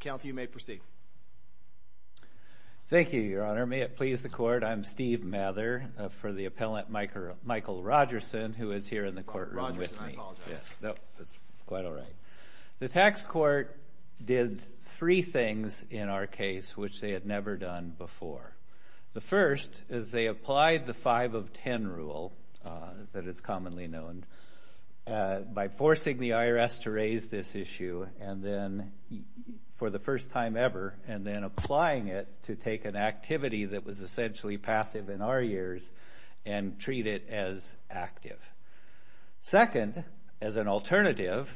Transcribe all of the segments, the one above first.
Counsel, you may proceed. Thank you, Your Honor. May it please the court, I'm Steve Mather for the appellant Michael Rogerson who is here in the courtroom with me. Rogerson, I apologize. Yes, that's quite all right. The tax court did three things in our case which they had never done before. The first is they applied the 5 of 10 rule that is commonly known by forcing the IRS to raise this issue and then for the first time ever and then applying it to take an activity that was essentially passive in our years and treat it as active. Second, as an alternative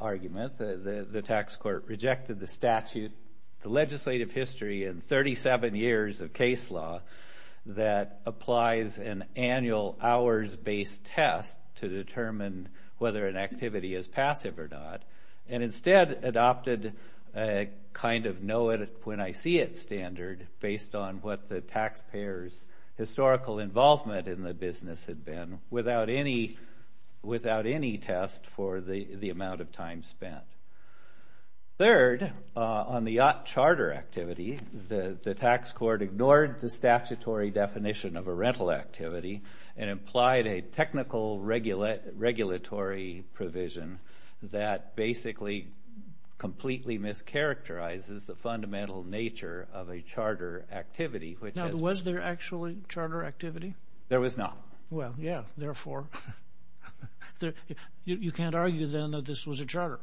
argument, the tax court rejected the statute, the legislative history and 37 years of case law that applies an annual hours-based test to determine whether an activity is passive or not and instead adopted a kind of know it when I see it standard based on what the taxpayer's historical involvement in the business had been without any test for the amount of time spent. Third, on the charter activity, the tax court ignored the statutory definition of a rental activity and applied a technical regulatory provision that basically completely mischaracterizes the fundamental nature of a charter activity. Now, was there actually charter activity? There was not. Well, yeah, therefore, you can't argue then that this was a charter.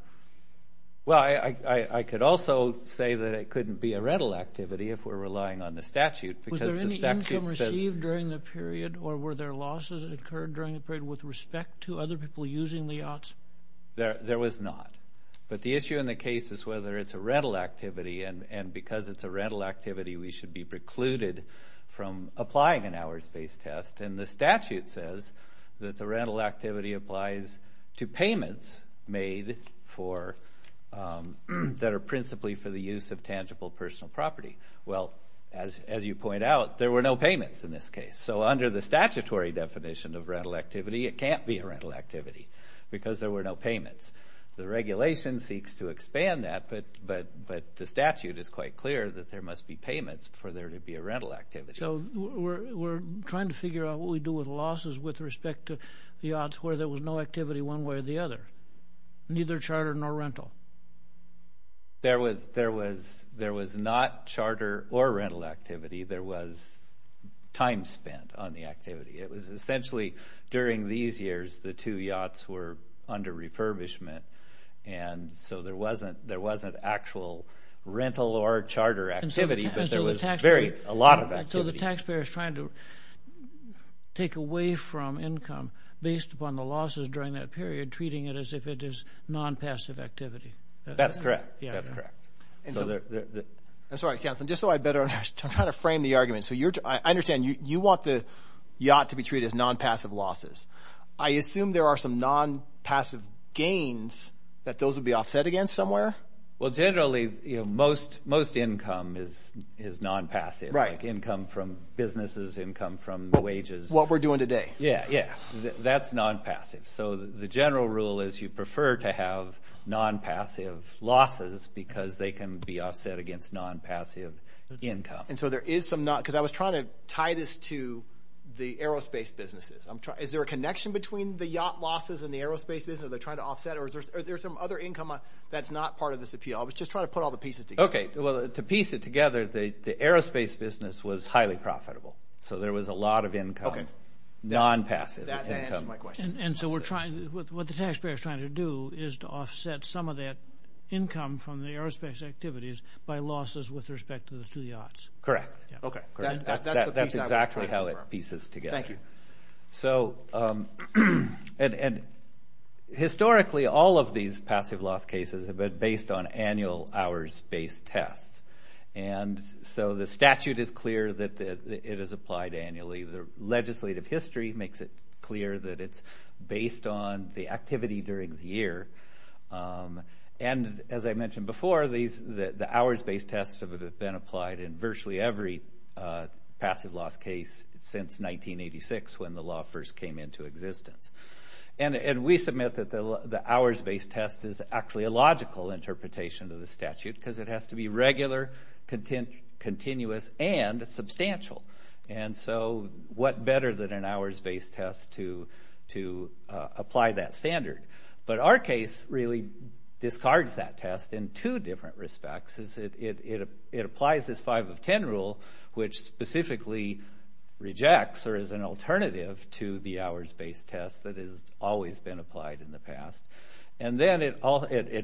Well, I could also say that it couldn't be a rental activity if we're relying on the statute. Was there any income received during the period or were there losses that occurred during the period with respect to other people using the yachts? There was not, but the issue in the case is whether it's a rental activity and because it's a rental activity we should be precluded from applying an hours-based test and the statute says that the rental activity applies to payments made for that are principally for the use of tangible personal property. Well, as you point out, there were no payments in this case. So under the statutory definition of rental activity, it can't be a rental activity because there were no payments. The regulation seeks to for there to be a rental activity. So we're trying to figure out what we do with losses with respect to the yachts where there was no activity one way or the other, neither charter nor rental. There was not charter or rental activity. There was time spent on the activity. It was essentially during these years the two yachts were under refurbishment and so there wasn't actual rental or charter activity, but there was a lot of activity. So the taxpayer is trying to take away from income based upon the losses during that period, treating it as if it is non-passive activity. That's correct. I'm sorry, Councilman, just so I better understand. I'm trying to frame the argument. So I understand you want the yacht to be treated as non-passive losses. I assume there are some non-passive gains that those would be offset against somewhere? Well, generally, most income is non-passive, like income from businesses, income from wages. What we're doing today. Yeah, yeah. That's non-passive. So the general rule is you prefer to have non-passive losses because they can be offset against non-passive income. And so there is some not, because I was trying to tie this to the aerospace businesses. Is there a connection between the yacht losses and the aerospace business? Are they trying to offset or is there some other income that's not part of this appeal? I was just trying to put all the pieces together. Okay, well, to piece it together, the aerospace business was highly profitable. So there was a lot of income, non-passive income. That answers my question. And so what the taxpayer is trying to do is to offset some of that income from the aerospace activities by losses with respect to the yachts. Correct. Okay. That's exactly how it pieces together. Thank you. So, and historically, all of these passive loss cases have been based on annual hours-based tests. And so the statute is clear that it is applied annually. The legislative history makes it clear that it's based on the activity during the year. And as I mentioned before, the hours-based tests have been applied in virtually every passive loss case since 1986, when the law first came into existence. And we submit that the hours-based test is actually a logical interpretation of the statute, because it has to be regular, continuous, and substantial. And so what better than an hours-based test to apply that standard? But our case really discards that test in two different respects. It applies this 5 of 10 rule, which specifically rejects or is an alternative to the hours-based test that has always been applied in the past. And then it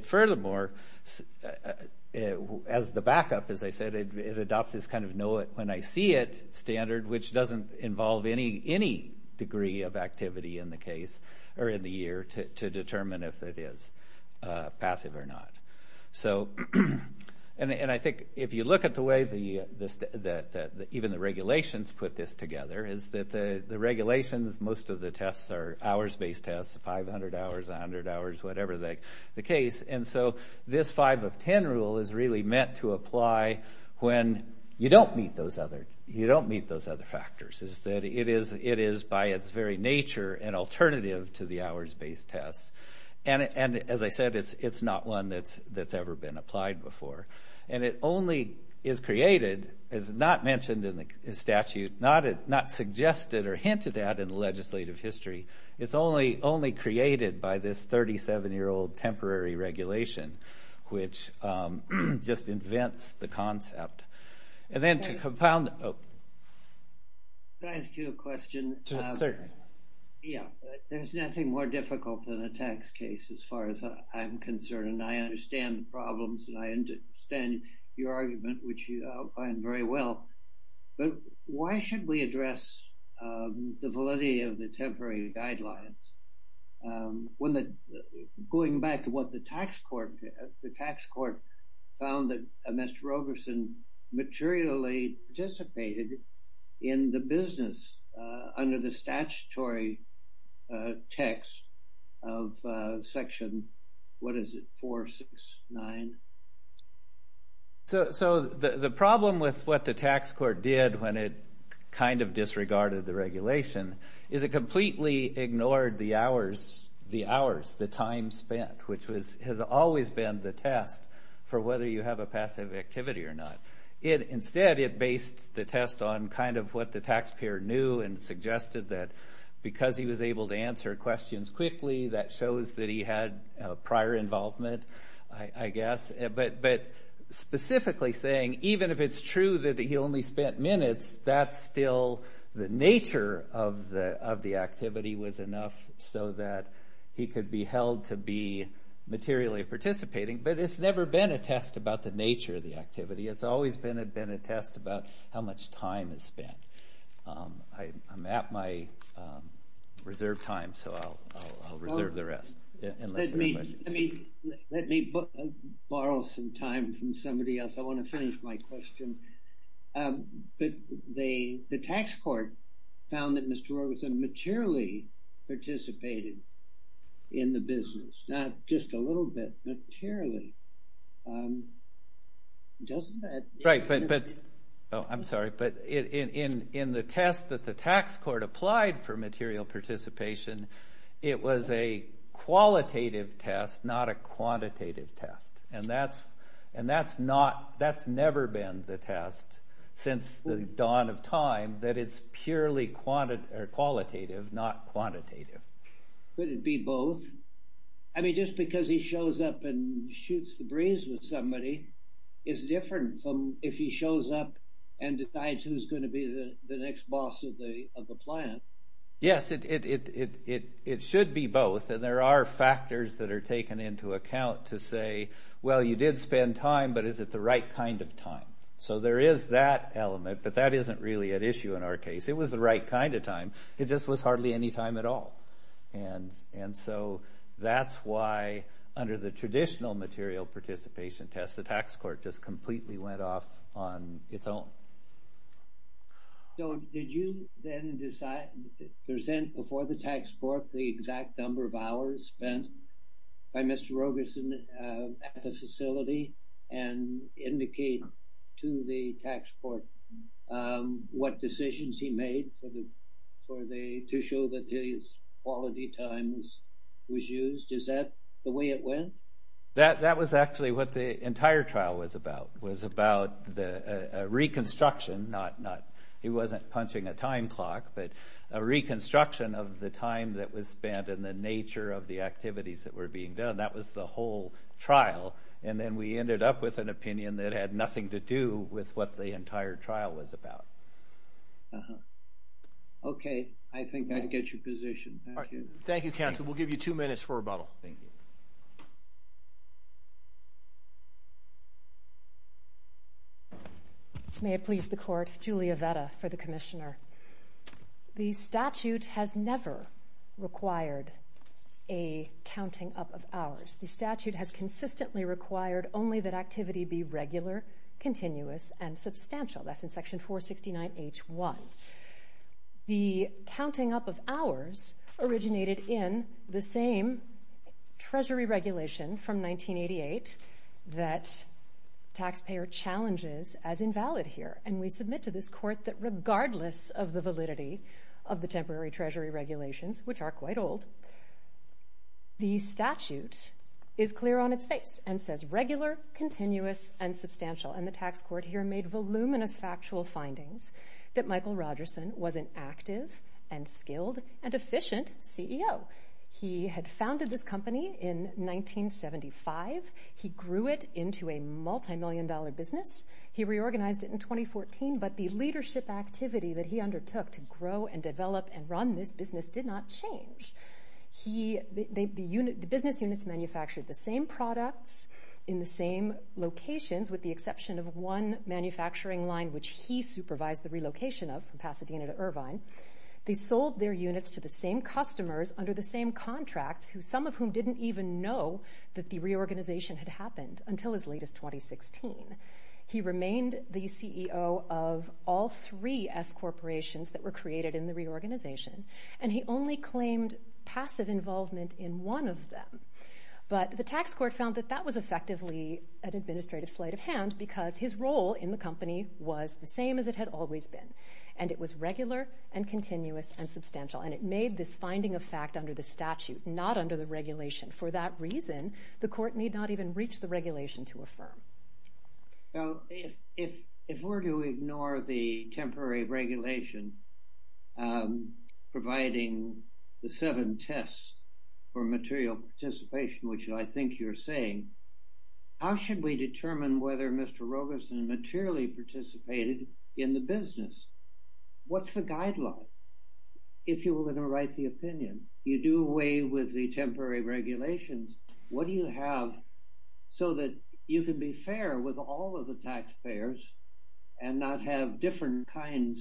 furthermore, as the backup, as I said, it adopts this kind of know it when I see it standard, which doesn't involve any degree of activity in the case or in the year to determine if it is passive or not. So, and I think if you look at the way that even the regulations put this together, is that the regulations, most of the tests are hours-based tests, 500 hours, 100 hours, whatever the case. And so this 5 of 10 rule is really meant to apply when you don't meet those other, you don't meet those other factors. It is by its very nature an alternative to the hours-based test. And as I said, it's not one that's ever been applied before. And it only is created, it's not mentioned in the statute, not suggested or hinted at in the legislative history. It's only created by this 37-year-old temporary regulation, which just invents the concept. And then to compound... Can I ask you a question? Yeah, there's nothing more difficult than a tax case as far as I'm concerned. And I understand the problems and I understand your argument, which you outlined very well. But why should we address the validity of the temporary guidelines? Going back to what the tax court, the tax court found that Mr. under the statutory text of Section, what is it, 469? So the problem with what the tax court did when it kind of disregarded the regulation is it completely ignored the hours, the hours, the time spent, which has always been the test for whether you have a passive activity or not. Instead, it based the test on kind of what the taxpayer knew and suggested that because he was able to answer questions quickly, that shows that he had prior involvement, I guess. But specifically saying, even if it's true that he only spent minutes, that's still the nature of the activity was enough so that he could be held to be materially participating. But it's never been a test about the nature of the activity. It's always been a test about how much time is spent. I'm at my reserved time, so I'll reserve the rest. Let me borrow some time from somebody else. I want to finish my question. But the tax court found that Mr. Orr was materially participated in the business, not just a little bit, but purely. Right, but I'm sorry, but in the test that the tax court applied for material participation, it was a qualitative test, not a quantitative test. And that's never been the test since the dawn of time that it's purely quantitative or qualitative, not quantitative. Could it be both? I mean, just because he shows up and shoots the breeze with somebody is different from if he shows up and decides who's going to be the next boss of the plant. Yes, it should be both. And there are factors that are taken into account to say, well, you did spend time, but is it the right kind of time? So there is that element, but that isn't really at issue in our case. It was the right kind of time. It just was hardly any time at all. And so that's why under the traditional material participation test, the tax court just completely went off on its own. So did you then present before the tax court the exact number of hours spent by Mr. Rogerson at the facility and indicate to the tax court what decisions he made to show that his quality time was used? Is that the way it went? That was actually what the entire trial was about, was about the reconstruction. He wasn't punching a time clock, but a reconstruction of the time that was spent and the nature of the activities that were being done. That was the whole trial. And then we ended up with an opinion that had nothing to do with what the entire trial was about. Okay, I think that gets your position. Thank you, counsel. We'll give you two minutes for rebuttal. May it please the court, Julia Vetta for the commissioner. The statute has never required a counting up of hours. The statute has consistently required only that activity be regular, continuous, and substantial. That's in section 469H1. The counting up of hours is the reason from 1988 that taxpayer challenges as invalid here. And we submit to this court that regardless of the validity of the temporary treasury regulations, which are quite old, the statute is clear on its face and says regular, continuous, and substantial. And the tax court here made voluminous factual findings that Michael Rogerson was an active and skilled and efficient CEO. He had started this company in 1975. He grew it into a multi-million dollar business. He reorganized it in 2014, but the leadership activity that he undertook to grow and develop and run this business did not change. The business units manufactured the same products in the same locations with the exception of one manufacturing line, which he supervised the relocation of from Pasadena to Irvine. They sold their units to the same contracts, some of whom didn't even know that the reorganization had happened until as late as 2016. He remained the CEO of all three S corporations that were created in the reorganization, and he only claimed passive involvement in one of them. But the tax court found that that was effectively an administrative sleight of hand because his role in the company was the same as it had always been. And it was regular and continuous and statute, not under the regulation. For that reason, the court need not even reach the regulation to affirm. Well, if we're to ignore the temporary regulation providing the seven tests for material participation, which I think you're saying, how should we deal with the temporary regulations? What do you have so that you can be fair with all of the taxpayers and not have different kinds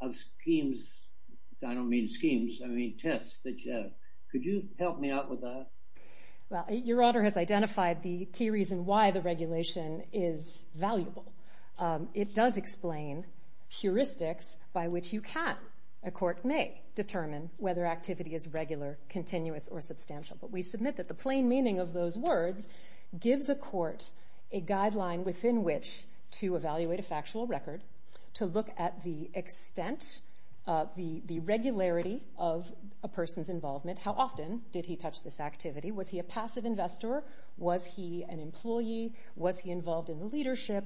of schemes? I don't mean schemes. I mean tests that you have. Could you help me out with that? Well, Your Honor has identified the key reason why the regulation is valuable. It does explain heuristics by which you can, a court may determine whether activity is regular, continuous, or substantial. But we submit that the plain meaning of those words gives a court a guideline within which to evaluate a factual record, to look at the extent, the regularity of a person's involvement. How often did he touch this activity? Was he a passive investor? Was he an employee? Was he involved in the leadership?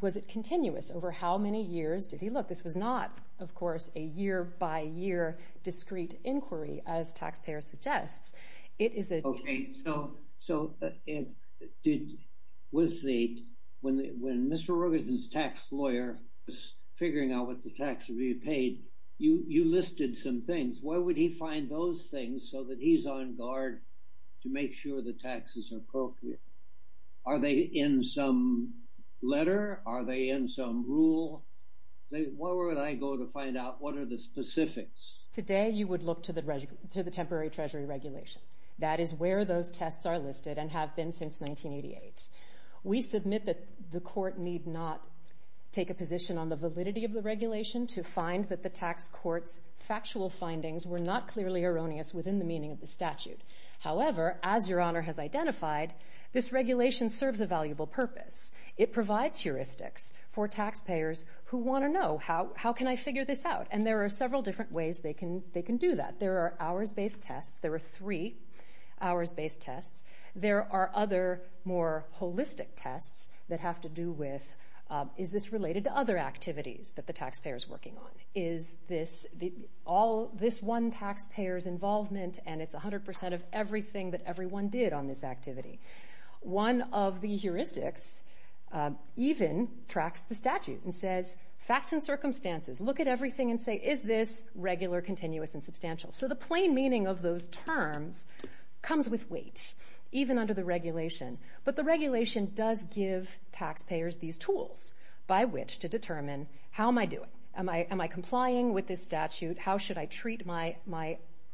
Was it continuous? Over how many years did he look? This was not, of course, a year by year discrete inquiry, as taxpayers suggest. Okay, so when Mr. Rogerson's tax lawyer was figuring out what the tax would be paid, you listed some things. Where would he find those things so that he's on guard to make sure the taxes are appropriate? Are they in some letter? Are they in some rule? Where would I go to find out what are the specifics? Today, you would look to the temporary treasury regulation. That is where those tests are listed and have been since 1988. We submit that the court need not take a position on the validity of the regulation to find that the tax court's factual findings were not clearly erroneous within the meaning of the statute. However, as Your Honor has identified, this regulation serves a valuable purpose. It provides heuristics for taxpayers who want to know how can I figure this out? And there are several different ways they can do that. There are hours-based tests. There are three hours-based tests. There are other more holistic tests that have to do with, is this related to other activities that the taxpayer is working on? Is this one taxpayer's involvement and it's 100% of everything that everyone did on this activity? One of the heuristics even tracks the statute and says, facts and circumstances. Look at everything and say, is this regular, continuous, and substantial? So the plain meaning of those terms comes with weight, even under the regulation. But the regulation does give taxpayers these tools by which to determine how am I doing? Am I complying with this statute? How should I treat my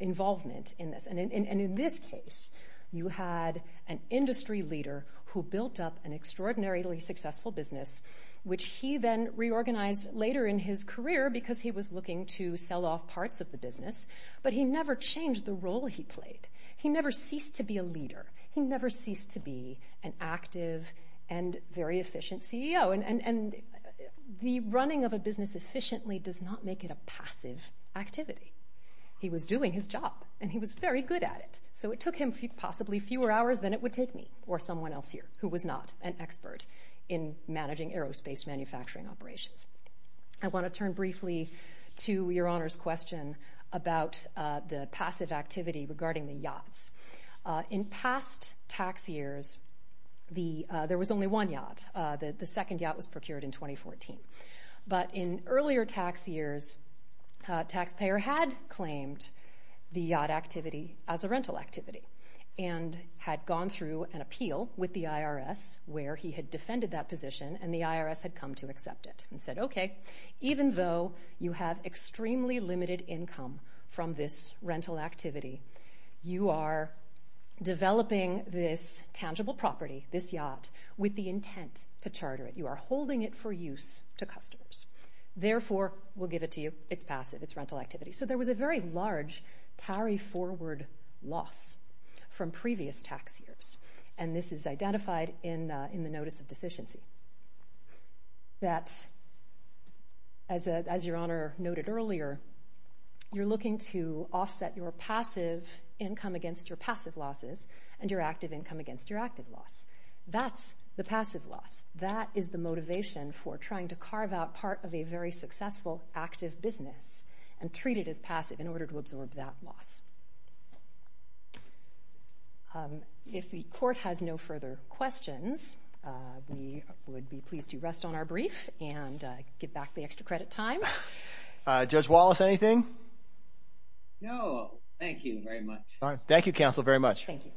involvement in this? And in this case, you had an industry leader who built up an extraordinarily successful business, which he then reorganized later in his career because he was looking to sell off parts of the business, but he never changed the role he played. He never ceased to be a leader. He never ceased to be an active and very efficient CEO. And the running of a business efficiently does not make it a passive activity. He was doing his job and he was very good at it. So it took him possibly fewer hours than it would take me or someone else here who was not an expert in managing aerospace manufacturing operations. I want to turn briefly to Your Honor's question about the passive activity regarding the yachts. In past tax years, there was only one yacht. The second yacht was procured in 2014. But in earlier tax years, a taxpayer had claimed the yacht activity as a rental activity and had gone through an appeal with the IRS where he had defended that position and the IRS had come to accept it and said, okay, even though you have extremely limited income from this rental activity, you are developing this tangible property, this yacht, with the intent to charter it. You are holding it for use to customers. Therefore, we'll give it to you. It's passive. It's rental activity. So there was a very large carry-forward loss from previous tax years. And this is identified in the Notice of Deficiency that, as Your Honor noted earlier, you're looking to offset your passive income against your passive losses and your active income against your active loss. That's the passive loss. That is the motivation for trying to carve out part of a very successful active business and treat it as passive in order to absorb that loss. If the Court has no further questions, we would be pleased to rest on our brief and give back the extra credit time. Judge Wallace, anything? No, thank you very much. Thank you, Counsel, very much. Thank you.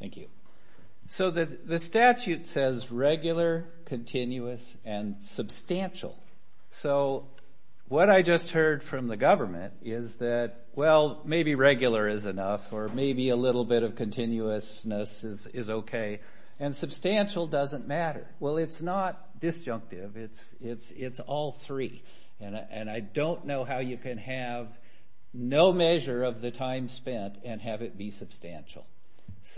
Thank you. So the statute says regular, continuous, and substantial. So what I just heard from the government is that, well, maybe regular is enough, or maybe a little bit of continuousness is okay, and substantial doesn't matter. Well, it's not disjunctive. It's all three. And I don't know how you can have no measure of the time spent and have it be substantial.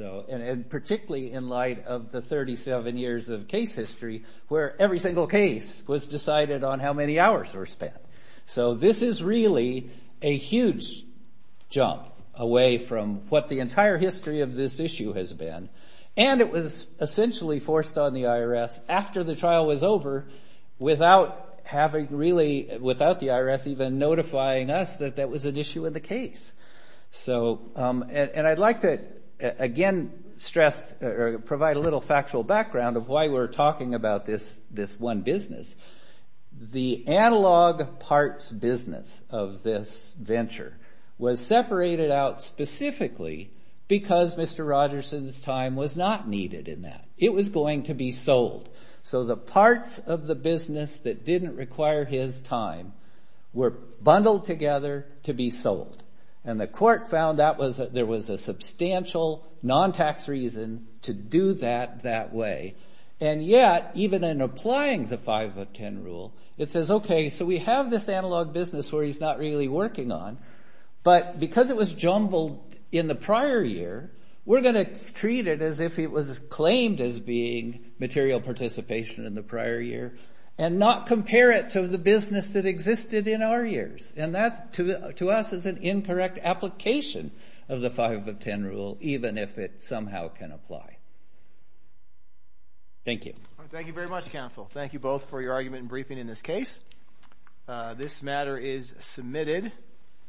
And particularly in light of the 37 years of case history where every single case was decided on how many hours were spent. So this is really a huge jump away from what the entire history of this issue has been. And it was essentially forced on the IRS after the trial was over without the IRS even notifying us that that was an issue in the case. And I'd like to, again, provide a little factual background of why we're talking about this one business. The analog parts business of this venture was separated out specifically because Mr. Rogerson's time was not needed in that. It was going to be sold. So the parts of the business that didn't require his time were bundled together to be sold. And the court found there was a substantial non-tax reason to do that that way. And yet, even in applying the 5 of 10 rule, it says, okay, so we have this analog business where he's not really working on. But because it was jumbled in the prior year, we're going to treat it as if it was claimed as being material participation in the prior year. And not compare it to the business that existed in our years. And that, to us, is an incorrect application of the 5 of 10 rule, even if it somehow can apply. Thank you. Thank you very much, counsel. Thank you both for your argument and briefing in this case. This matter is submitted.